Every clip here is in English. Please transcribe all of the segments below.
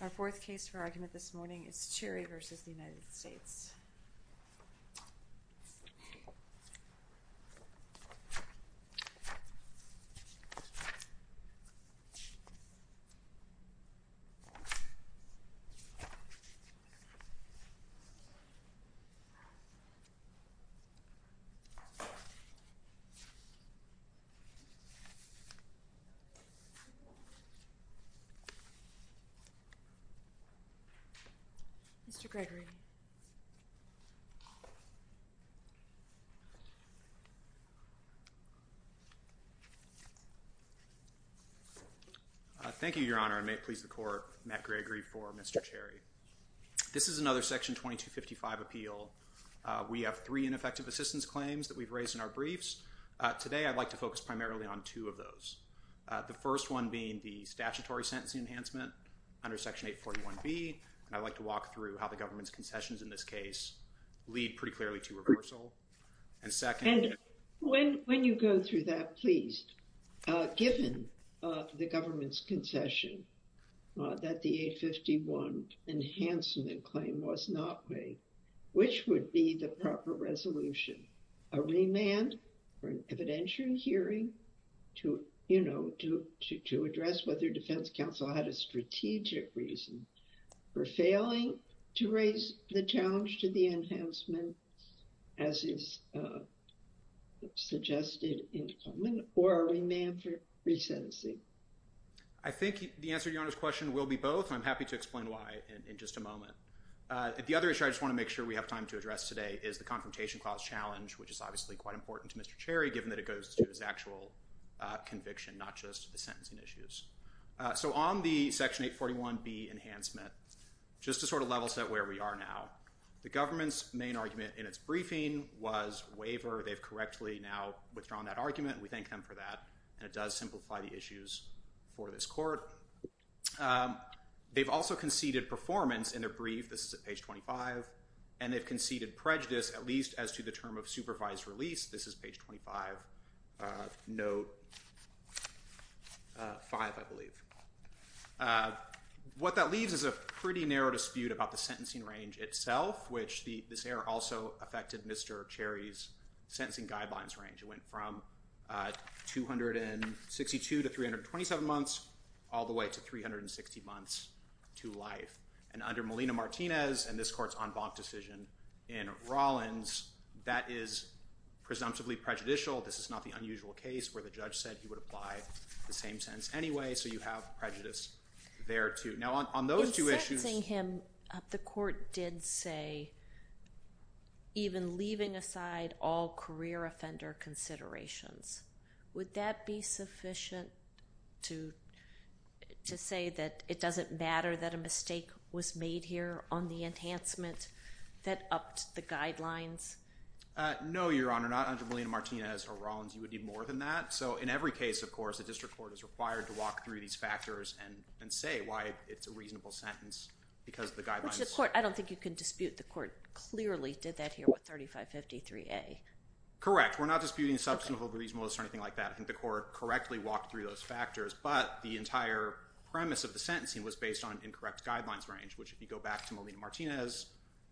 Our fourth case for argument this morning is Cherry v. United States. Mr. Gregory. Thank you, Your Honor, and may it please the Court, Matt Gregory for Mr. Cherry. This is another Section 2255 appeal. We have three ineffective assistance claims that we've raised in our briefs. Today I'd like to focus primarily on two of those. The first one being the statutory sentencing enhancement under Section 841B, and I'd like to walk through how the government's concessions in this case lead pretty clearly to reversal. And second— And when you go through that, please, given the government's concession that the 851 enhancement claim was not made, which would be the proper resolution? A remand for an evidentiary hearing to, you know, to address whether defense counsel had a strategic reason for failing to raise the challenge to the enhancement as is suggested in common, or a remand for resentencing? I think the answer to Your Honor's question will be both. I'm happy to explain why in just a moment. The other issue I just want to make sure we have time to address today is the confrontation clause challenge, which is obviously quite important to Mr. Cherry, given that it goes to his actual conviction, not just the sentencing issues. So on the Section 841B enhancement, just to sort of level set where we are now, the government's main argument in its briefing was waiver. They've correctly now withdrawn that argument. We thank them for that, and it does simplify the issues for this Court. They've also conceded performance in their brief. This is at page 25. And they've conceded prejudice, at least as to the term of supervised release. This is page 25, note 5, I believe. What that leaves is a pretty narrow dispute about the sentencing range itself, which this error also affected Mr. Cherry's sentencing guidelines range. It went from 262 to 327 months, all the way to 360 months to life. And under Molina-Martinez, and this Court's en banc decision in Rollins, that is presumptively prejudicial. This is not the unusual case where the judge said he would apply the same sentence anyway. So you have prejudice there, too. In sentencing him, the Court did say even leaving aside all career offender considerations. Would that be sufficient to say that it doesn't matter that a mistake was made here on the enhancement that upped the guidelines? No, Your Honor. Not under Molina-Martinez or Rollins. You would need more than that. So in every case, of course, the district court is required to walk through these factors and say why it's a reasonable sentence. I don't think you can dispute the Court clearly did that here with 3553A. Correct. We're not disputing substantive or reasonableness or anything like that. I think the Court correctly walked through those factors. But the entire premise of the sentencing was based on incorrect guidelines range, which if you go back to Molina-Martinez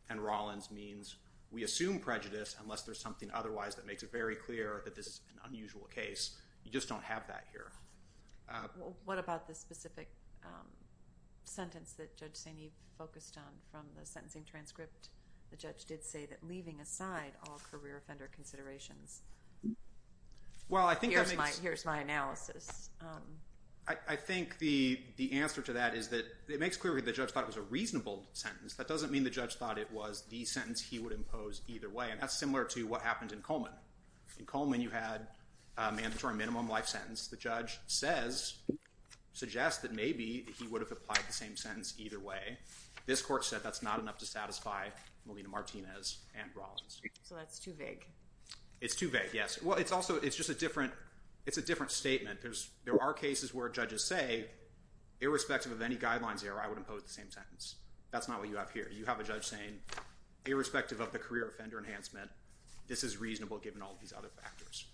and Rollins means we assume prejudice unless there's something otherwise that makes it very clear that this is an unusual case. You just don't have that here. What about the specific sentence that Judge St. Eve focused on from the sentencing transcript? The judge did say that leaving aside all career offender considerations. Here's my analysis. I think the answer to that is that it makes clear that the judge thought it was a reasonable sentence. That doesn't mean the judge thought it was the sentence he would impose either way. And that's similar to what happened in Coleman. In Coleman you had a mandatory minimum life sentence. The judge says, suggests that maybe he would have applied the same sentence either way. This Court said that's not enough to satisfy Molina-Martinez and Rollins. So that's too vague. It's too vague, yes. Well, it's also just a different statement. There are cases where judges say irrespective of any guidelines error I would impose the same sentence. That's not what you have here. You have a judge saying irrespective of the career offender enhancement, this is reasonable given all these other factors.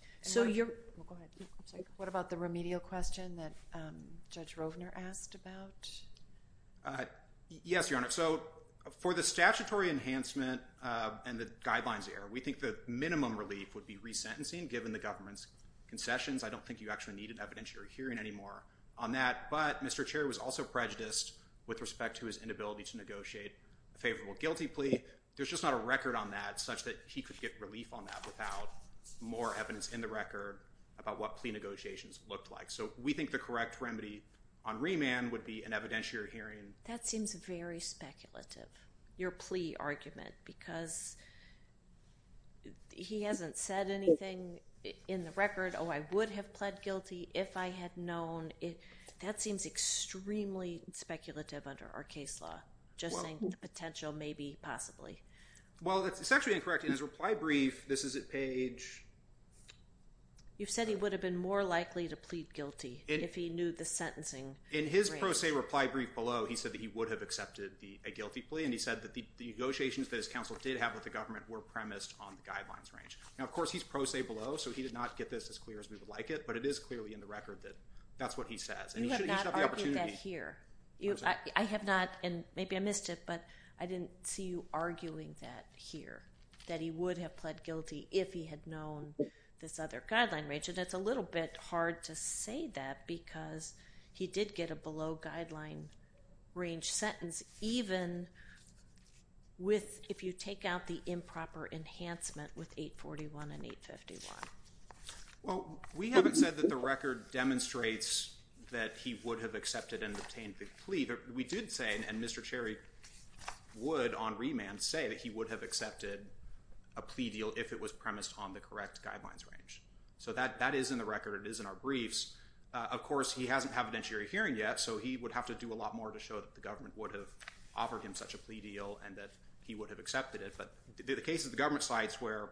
What about the remedial question that Judge Rovner asked about? Yes, Your Honor. So for the statutory enhancement and the guidelines error, we think the minimum relief would be resentencing given the government's concessions. I don't think you actually need an evidentiary hearing anymore on that. But Mr. Chair, it was also prejudiced with respect to his inability to negotiate a favorable guilty plea. There's just not a record on that such that he could get relief on that without more evidence in the record about what plea negotiations looked like. So we think the correct remedy on remand would be an evidentiary hearing. That seems very speculative, your plea argument, because he hasn't said anything in the record. Oh, I would have pled guilty if I had known. That seems extremely speculative under our case law, just saying the potential may be possibly. Well, it's actually incorrect. In his reply brief, this is at page… You said he would have been more likely to plead guilty if he knew the sentencing. In his pro se reply brief below, he said that he would have accepted a guilty plea, and he said that the negotiations that his counsel did have with the government were premised on the guidelines range. Now, of course, he's pro se below, so he did not get this as clear as we would like it, but it is clearly in the record that that's what he says, and he should have used up the opportunity. You have not argued that here. I have not, and maybe I missed it, but I didn't see you arguing that here, that he would have pled guilty if he had known this other guideline range, and it's a little bit hard to say that because he did get a below guideline range sentence, even if you take out the improper enhancement with 841 and 851. Well, we haven't said that the record demonstrates that he would have accepted and obtained the plea, but we did say, and Mr. Cherry would on remand say, that he would have accepted a plea deal if it was premised on the correct guidelines range. So that is in the record. It is in our briefs. Of course, he hasn't had an interior hearing yet, so he would have to do a lot more to show that the government would have offered him such a plea deal and that he would have accepted it. But the case of the government sites where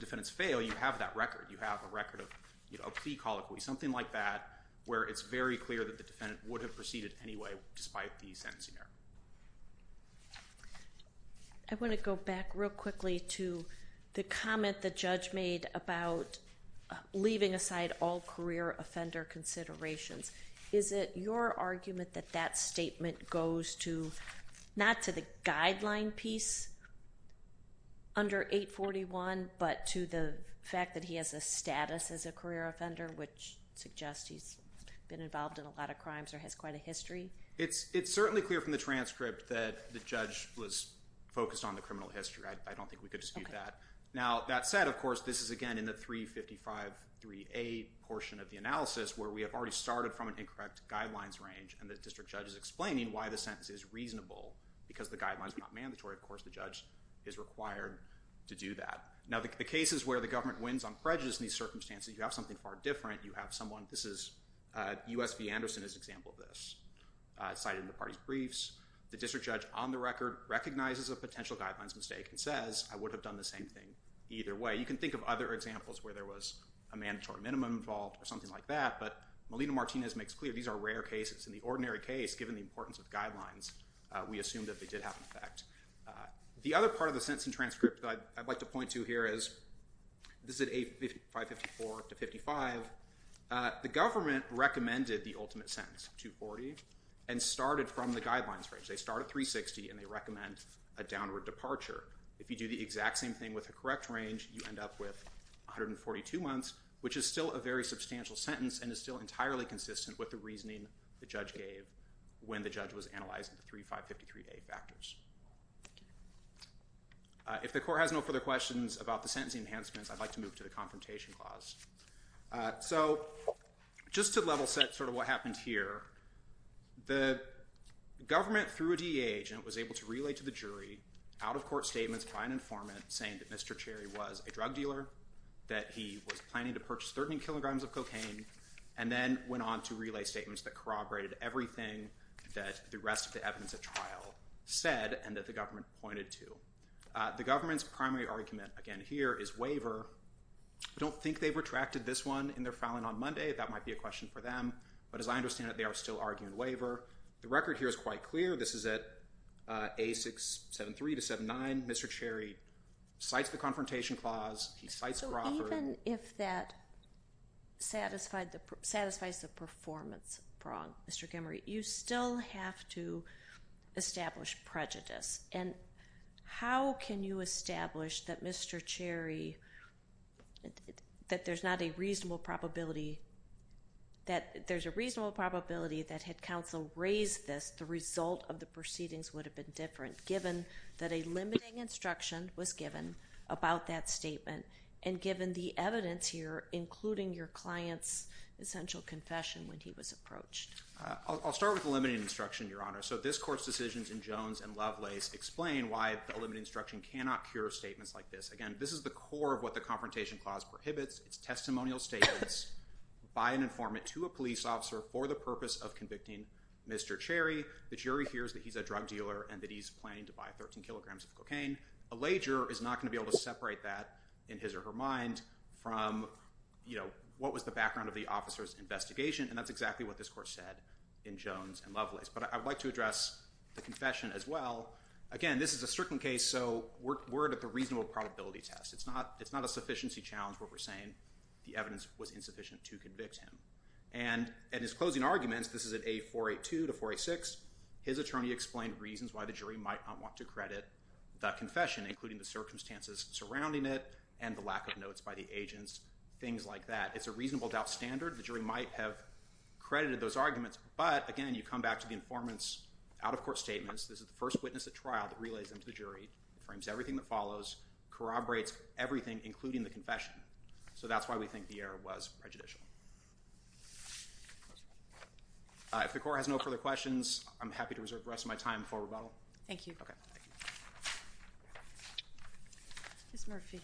defendants fail, you have that record. You have a record of a plea colloquy, something like that, where it's very clear that the defendant would have proceeded anyway despite the sentencing error. I want to go back real quickly to the comment the judge made about leaving aside all career offender considerations. Is it your argument that that statement goes not to the guideline piece under 841, but to the fact that he has a status as a career offender, which suggests he's been involved in a lot of crimes or has quite a history? It's certainly clear from the transcript that the judge was focused on the criminal history. I don't think we could dispute that. Now, that said, of course, this is, again, in the 355.3a portion of the analysis where we have already started from an incorrect guidelines range and the district judge is explaining why the sentence is reasonable because the guidelines are not mandatory. Of course, the judge is required to do that. Now, the cases where the government wins on prejudice in these circumstances, you have something far different. You have someoneóUSB Anderson is an example of this, cited in the party's briefs. The district judge, on the record, recognizes a potential guidelines mistake and says, I would have done the same thing either way. You can think of other examples where there was a mandatory minimum involved or something like that, but Molina-Martinez makes clear these are rare cases. In the ordinary case, given the importance of guidelines, we assume that they did have an effect. The other part of the sentence and transcript that I'd like to point to here isóthis is at 554 to 55ó the government recommended the ultimate sentence, 240, and started from the guidelines range. They start at 360 and they recommend a downward departure. If you do the exact same thing with the correct range, you end up with 142 months, which is still a very substantial sentence and is still entirely consistent with the reasoning the judge gave when the judge was analyzing the three 553A factors. If the court has no further questions about the sentencing enhancements, I'd like to move to the confrontation clause. So just to level set sort of what happened here, the government, through a DEA agent, was able to relay to the jury, out-of-court statements by an informant saying that Mr. Cherry was a drug dealer, that he was planning to purchase 13 kilograms of cocaine, and then went on to relay statements that corroborated everything that the rest of the evidence at trial said and that the government pointed to. The government's primary argument, again here, is waiver. I don't think they've retracted this one in their filing on Monday. That might be a question for them, but as I understand it, they are still arguing waiver. The record here is quite clear. This is at A673-79. Mr. Cherry cites the confrontation clause. He cites Crawford. So even if that satisfies the performance prong, Mr. Kimmery, you still have to establish prejudice. And how can you establish that Mr. Cherry, that there's not a reasonable probability, that there's a reasonable probability that had counsel raised this, the result of the proceedings would have been different, given that a limiting instruction was given about that statement and given the evidence here, including your client's essential confession when he was approached? I'll start with the limiting instruction, Your Honor. So this court's decisions in Jones and Lovelace explain why the limiting instruction cannot cure statements like this. Again, this is the core of what the confrontation clause prohibits. It's testimonial statements by an informant to a police officer for the purpose of convicting Mr. Cherry. The jury hears that he's a drug dealer and that he's planning to buy 13 kilograms of cocaine. A lay juror is not going to be able to separate that in his or her mind from, you know, what was the background of the officer's investigation, and that's exactly what this court said in Jones and Lovelace. But I would like to address the confession as well. Again, this is a certain case, so we're at the reasonable probability test. It's not a sufficiency challenge where we're saying the evidence was insufficient to convict him. And in his closing arguments, this is at A482 to 486, his attorney explained reasons why the jury might not want to credit the confession, including the circumstances surrounding it and the lack of notes by the agents, things like that. It's a reasonable doubt standard. The jury might have credited those arguments, but, again, you come back to the informant's out-of-court statements. This is the first witness at trial that relays them to the jury, confirms everything that follows, corroborates everything, including the confession. So that's why we think the error was prejudicial. If the court has no further questions, I'm happy to reserve the rest of my time for rebuttal. Thank you. Okay. Ms. Murphy.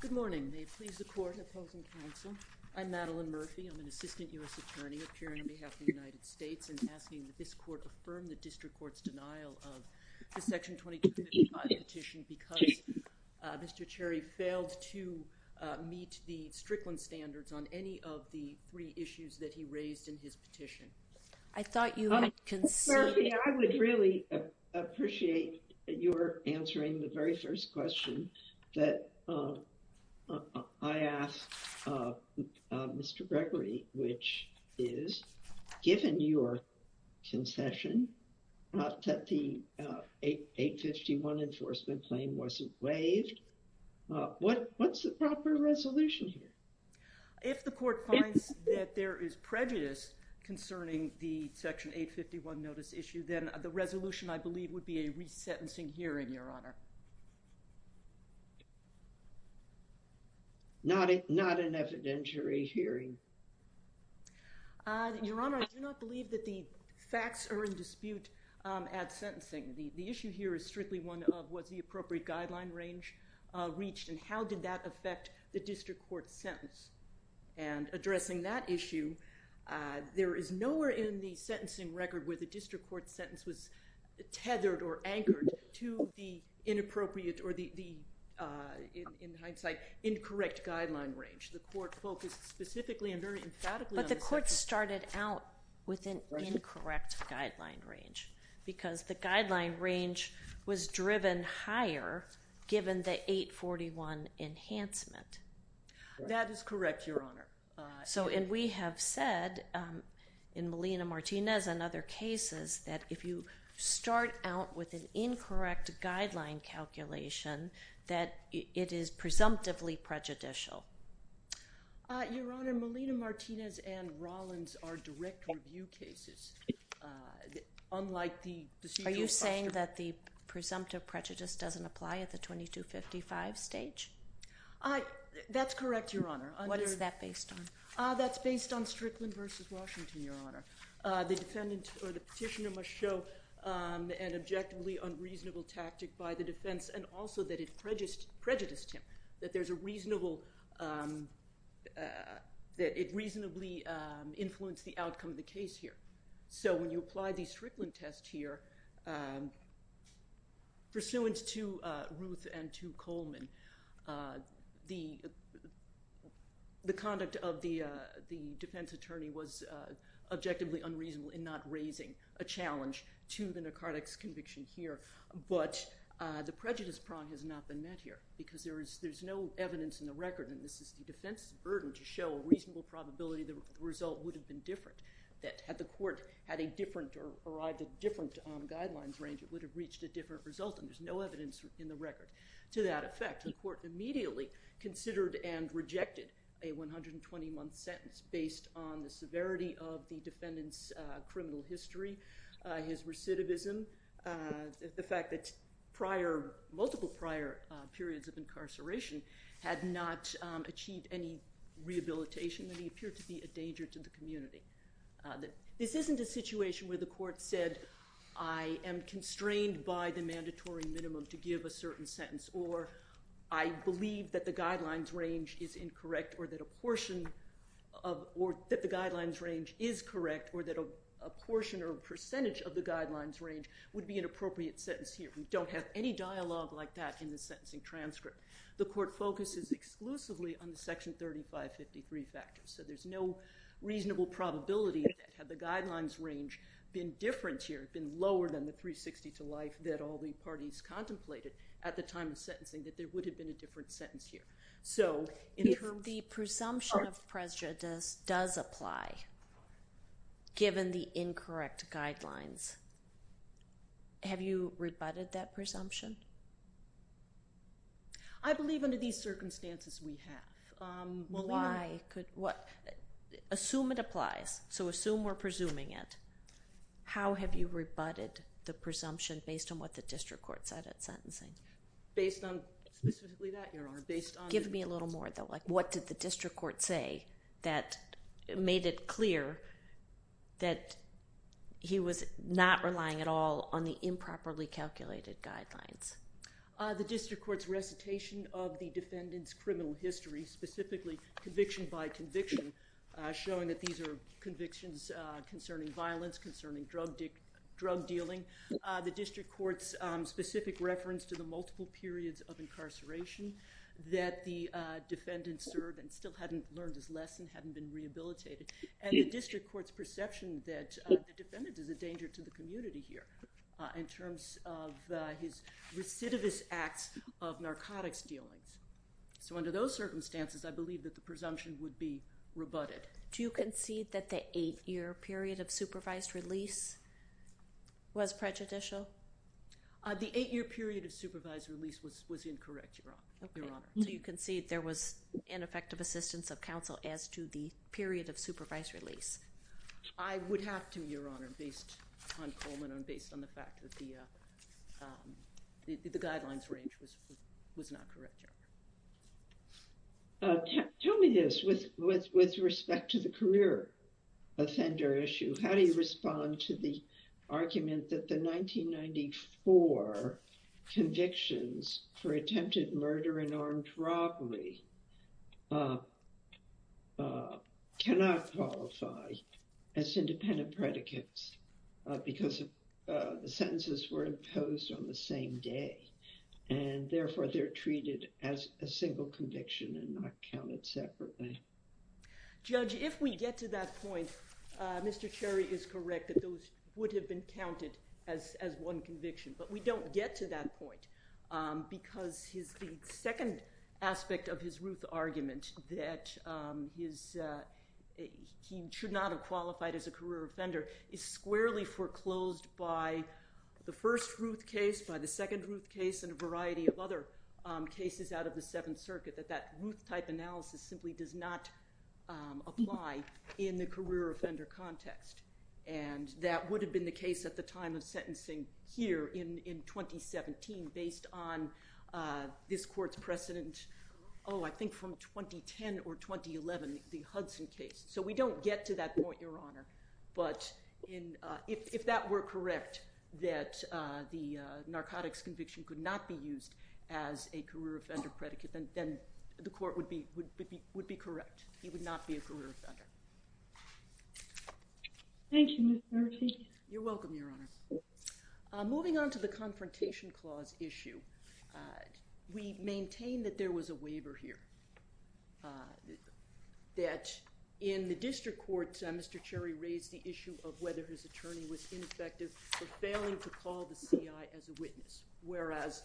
Good morning. May it please the court opposing counsel. I'm Madeline Murphy. I'm an assistant U.S. attorney appearing on behalf of the United States and asking that this court affirm the district court's denial of the Section 2255 petition because Mr. Cherry failed to meet the Strickland standards on any of the three issues that he raised in his petition. I thought you might concern me. Yeah, I would really appreciate your answering the very first question that I asked Mr. Gregory, which is, given your concession that the 851 enforcement claim wasn't waived, what's the proper resolution here? If the court finds that there is prejudice concerning the Section 851 notice issue, then the resolution I believe would be a resentencing hearing, Your Honor. Not an evidentiary hearing. Your Honor, I do not believe that the facts are in dispute at sentencing. The issue here is strictly one of what's the appropriate guideline range reached and how did that affect the district court's sentence. And addressing that issue, there is nowhere in the sentencing record where the district court's sentence was tethered or anchored to the inappropriate or the, in hindsight, incorrect guideline range. The court focused specifically and very emphatically on the sentence. But the court started out with an incorrect guideline range because the guideline range was driven higher given the 841 enhancement. That is correct, Your Honor. So, and we have said, in Melina Martinez and other cases, that if you start out with an incorrect guideline calculation, that it is presumptively prejudicial. Your Honor, Melina Martinez and Rollins are direct review cases. Unlike the procedural structure. Are you saying that the presumptive prejudice doesn't apply at the 2255 stage? That's correct, Your Honor. What is that based on? That's based on Strickland v. Washington, Your Honor. The petitioner must show an objectively unreasonable tactic by the defense and also that it prejudiced him. That there's a reasonable, that it reasonably influenced the outcome of the case here. So when you apply the Strickland test here, pursuant to Ruth and to Coleman, the conduct of the defense attorney was objectively unreasonable in not raising a challenge to the narcotics conviction here. But the prejudice prong has not been met here. Because there's no evidence in the record, and this is the defense's burden to show a reasonable probability that the result would have been different. That had the court had a different or arrived at a different guidelines range, it would have reached a different result, and there's no evidence in the record. To that effect, the court immediately considered and rejected a 120-month sentence based on the severity of the defendant's criminal history, his recidivism, the fact that prior, multiple prior periods of incarceration had not achieved any rehabilitation, and he appeared to be a danger to the community. This isn't a situation where the court said, I am constrained by the mandatory minimum to give a certain sentence, or I believe that the guidelines range is incorrect, or that a portion of, or that the guidelines range is correct, or that a portion or a percentage of the guidelines range would be an appropriate sentence here. We don't have any dialogue like that in the sentencing transcript. The court focuses exclusively on the Section 3553 factors, so there's no reasonable probability that had the guidelines range been different here, been lower than the 360 to life that all the parties contemplated at the time of sentencing, that there would have been a different sentence here. If the presumption of prejudice does apply, given the incorrect guidelines, have you rebutted that presumption? I believe under these circumstances we have. Why? Assume it applies, so assume we're presuming it. How have you rebutted the presumption based on what the district court said at sentencing? Based on specifically that, Your Honor? Give me a little more, though. What did the district court say that made it clear that he was not relying at all on the improperly calculated guidelines? The district court's recitation of the defendant's criminal history, specifically conviction by conviction, showing that these are convictions concerning violence, concerning drug dealing. The district court's specific reference to the multiple periods of incarceration that the defendant served and still hadn't learned his lesson, hadn't been rehabilitated. And the district court's perception that the defendant is a danger to the community here in terms of his recidivist acts of narcotics dealings. So under those circumstances, I believe that the presumption would be rebutted. Do you concede that the eight-year period of supervised release was prejudicial? The eight-year period of supervised release was incorrect, Your Honor. Do you concede there was ineffective assistance of counsel as to the period of supervised release? I would have to, Your Honor, based on Coleman, based on the fact that the guidelines range was not correct, Your Honor. Tell me this with respect to the career offender issue. How do you respond to the argument that the 1994 convictions for attempted murder and armed robbery cannot qualify as independent predicates because the sentences were imposed on the same day and therefore they're treated as a single conviction and not counted separately? Judge, if we get to that point, Mr. Cherry is correct that those would have been counted as one conviction. But we don't get to that point because the second aspect of his Ruth argument that he should not have qualified as a career offender is squarely foreclosed by the first Ruth case, by the second Ruth case, and a variety of other cases out of the Seventh Circuit, that that Ruth-type analysis simply does not apply in the career offender context. And that would have been the case at the time of sentencing here in 2017 based on this court's precedent, oh, I think from 2010 or 2011, the Hudson case. So we don't get to that point, Your Honor. But if that were correct, that the narcotics conviction could not be used as a career offender predicate, then the court would be correct. He would not be a career offender. Thank you, Ms. Hershey. You're welcome, Your Honor. Moving on to the Confrontation Clause issue, we maintain that there was a waiver here, that in the district courts Mr. Cherry raised the issue of whether his attorney was ineffective for failing to call the CI as a witness, whereas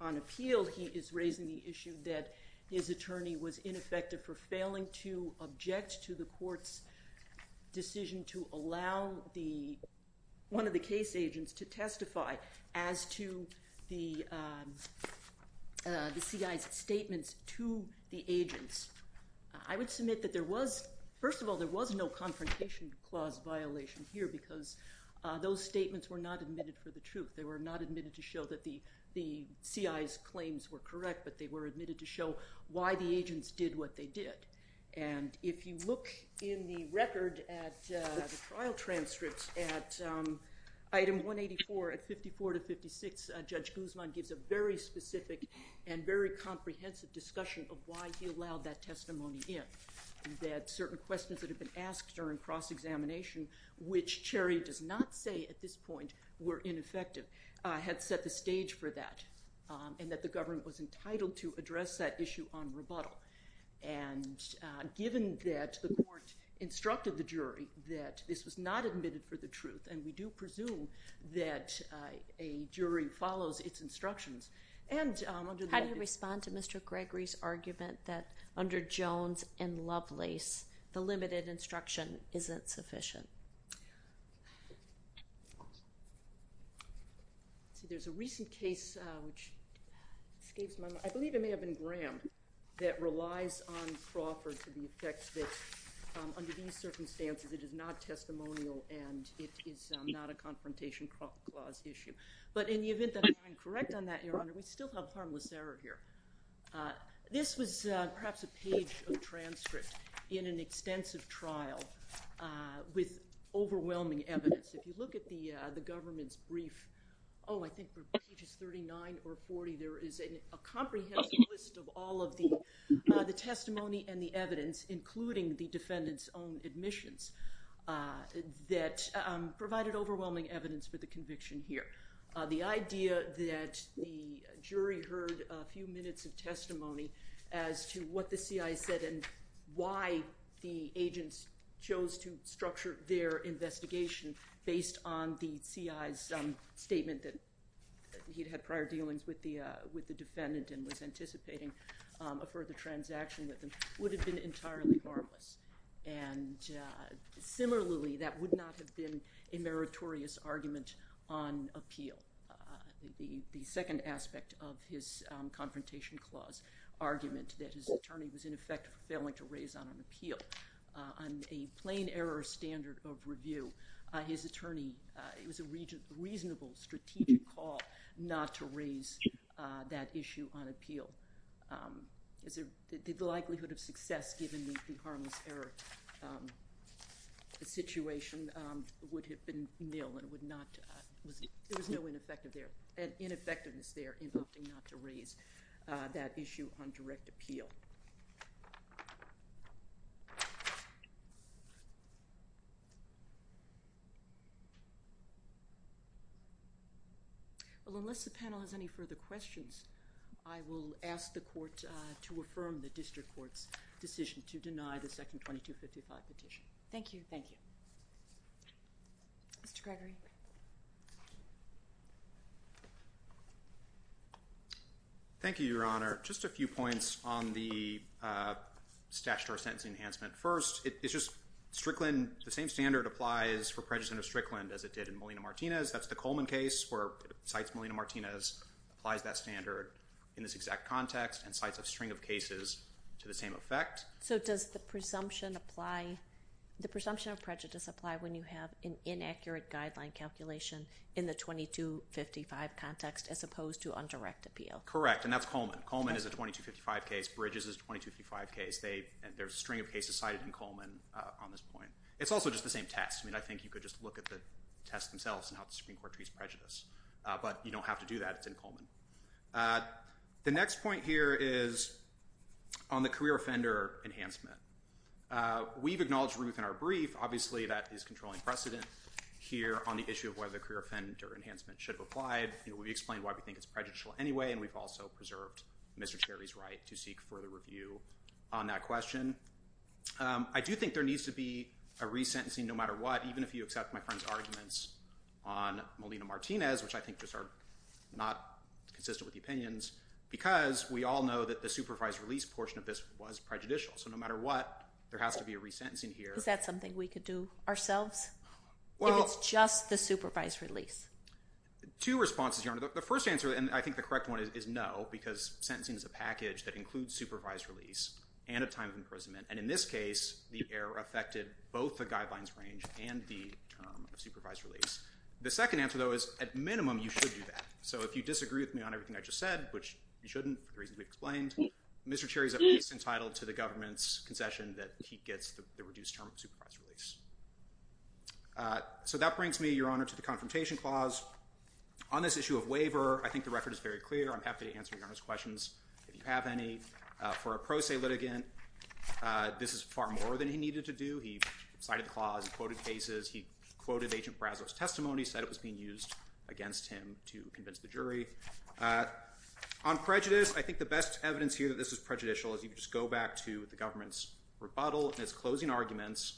on appeal he is raising the issue that his attorney was ineffective for failing to object to the court's decision to allow one of the case agents to testify as to the CI's statements to the agents. I would submit that there was, first of all, there was no Confrontation Clause violation here because those statements were not admitted for the truth. They were not admitted to show that the CI's claims were correct, but they were admitted to show why the agents did what they did. If you look in the record at the trial transcripts at Item 184, at 54 to 56, Judge Guzman gives a very specific and very comprehensive discussion of why he allowed that testimony in, that certain questions that had been asked during cross-examination, which Cherry does not say at this point were ineffective, had set the stage for that, and that the government was entitled to address that issue on rebuttal. Given that the court instructed the jury that this was not admitted for the truth, and we do presume that a jury follows its instructions. How do you respond to Mr. Gregory's argument that under Jones and Lovelace, the limited instruction isn't sufficient? There's a recent case which escapes my mind. I believe it may have been Graham that relies on Crawford to the effect that under these circumstances it is not testimonial and it is not a Confrontation Clause issue. But in the event that I'm correct on that, Your Honor, we still have harmless error here. This was perhaps a page of transcript in an extensive trial with overwhelming evidence. If you look at the government's brief, oh, I think for pages 39 or 40, there is a comprehensive list of all of the testimony and the evidence, including the defendant's own admissions, that provided overwhelming evidence for the conviction here. The idea that the jury heard a few minutes of testimony as to what the C.I. said and why the agents chose to structure their investigation based on the C.I.'s statement that he'd had prior dealings with the defendant and was anticipating a further transaction with him would have been entirely harmless. And similarly, that would not have been a meritorious argument on appeal. The second aspect of his Confrontation Clause argument that his attorney was ineffective for failing to raise on an appeal on a plain error standard of review. His attorney, it was a reasonable strategic call not to raise that issue on appeal. The likelihood of success, given the harmless error situation, would have been nil and would not, there was no ineffectiveness there in opting not to raise that issue on direct appeal. Well, unless the panel has any further questions, I will ask the Court to affirm the District Court's decision to deny the second 2255 petition. Thank you. Thank you. Mr. Gregory. Thank you, Your Honor. Just a few points on the statutory sentencing enhancement. First, it's just Strickland, the same standard applies for prejudice under Strickland as it did in Molina-Martinez. That's the Coleman case where it cites Molina-Martinez, applies that standard in this exact context and cites a string of cases to the same effect. So does the presumption of prejudice apply when you have an inaccurate guideline calculation in the 2255 context as opposed to on direct appeal? Correct, and that's Coleman. Coleman is a 2255 case. Bridges is a 2255 case. There's a string of cases cited in Coleman on this point. It's also just the same test. I mean, I think you could just look at the test themselves and how the Supreme Court treats prejudice, but you don't have to do that. It's in Coleman. The next point here is on the career offender enhancement. We've acknowledged, Ruth, in our brief, obviously that is controlling precedent here on the issue of whether the career offender enhancement should have applied. We explained why we think it's prejudicial anyway, and we've also preserved Mr. Cherry's right to seek further review on that question. I do think there needs to be a resentencing no matter what, even if you accept my friend's arguments on Molina-Martinez, which I think just are not consistent with the opinions, because we all know that the supervised release portion of this was prejudicial. So no matter what, there has to be a resentencing here. Is that something we could do ourselves if it's just the supervised release? Two responses, Your Honor. The first answer, and I think the correct one, is no, because sentencing is a package that includes supervised release and a time of imprisonment, and in this case, the error affected both the guidelines range and the term of supervised release. The second answer, though, is at minimum you should do that. So if you disagree with me on everything I just said, which you shouldn't for the reasons we've explained, Mr. Cherry is at least entitled to the government's concession that he gets the reduced term of supervised release. So that brings me, Your Honor, to the Confrontation Clause. On this issue of waiver, I think the record is very clear. I'm happy to answer Your Honor's questions if you have any. For a pro se litigant, this is far more than he needed to do. He cited the clause, he quoted cases, he quoted Agent Braslow's testimony, said it was being used against him to convince the jury. On prejudice, I think the best evidence here that this is prejudicial is you can just go back to the government's rebuttal and its closing arguments.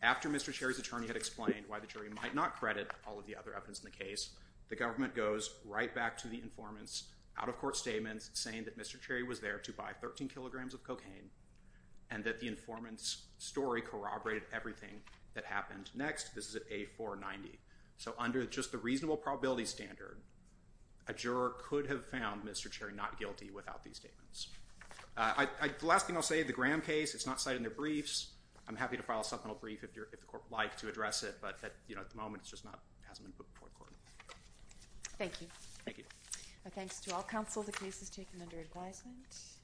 After Mr. Cherry's attorney had explained why the jury might not credit all of the other evidence in the case, the government goes right back to the informant's out-of-court statements saying that Mr. Cherry was there to buy 13 kilograms of cocaine and that the informant's story corroborated everything that happened. Next, this is at A490. So under just the reasonable probability standard, a juror could have found Mr. Cherry not guilty without these statements. The last thing I'll say, the Graham case, it's not cited in their briefs. I'm happy to file a supplemental brief if the court would like to address it, but at the moment it just hasn't been put before the court. Thank you. Thank you. Thanks to all counsel, the case is taken under advisement.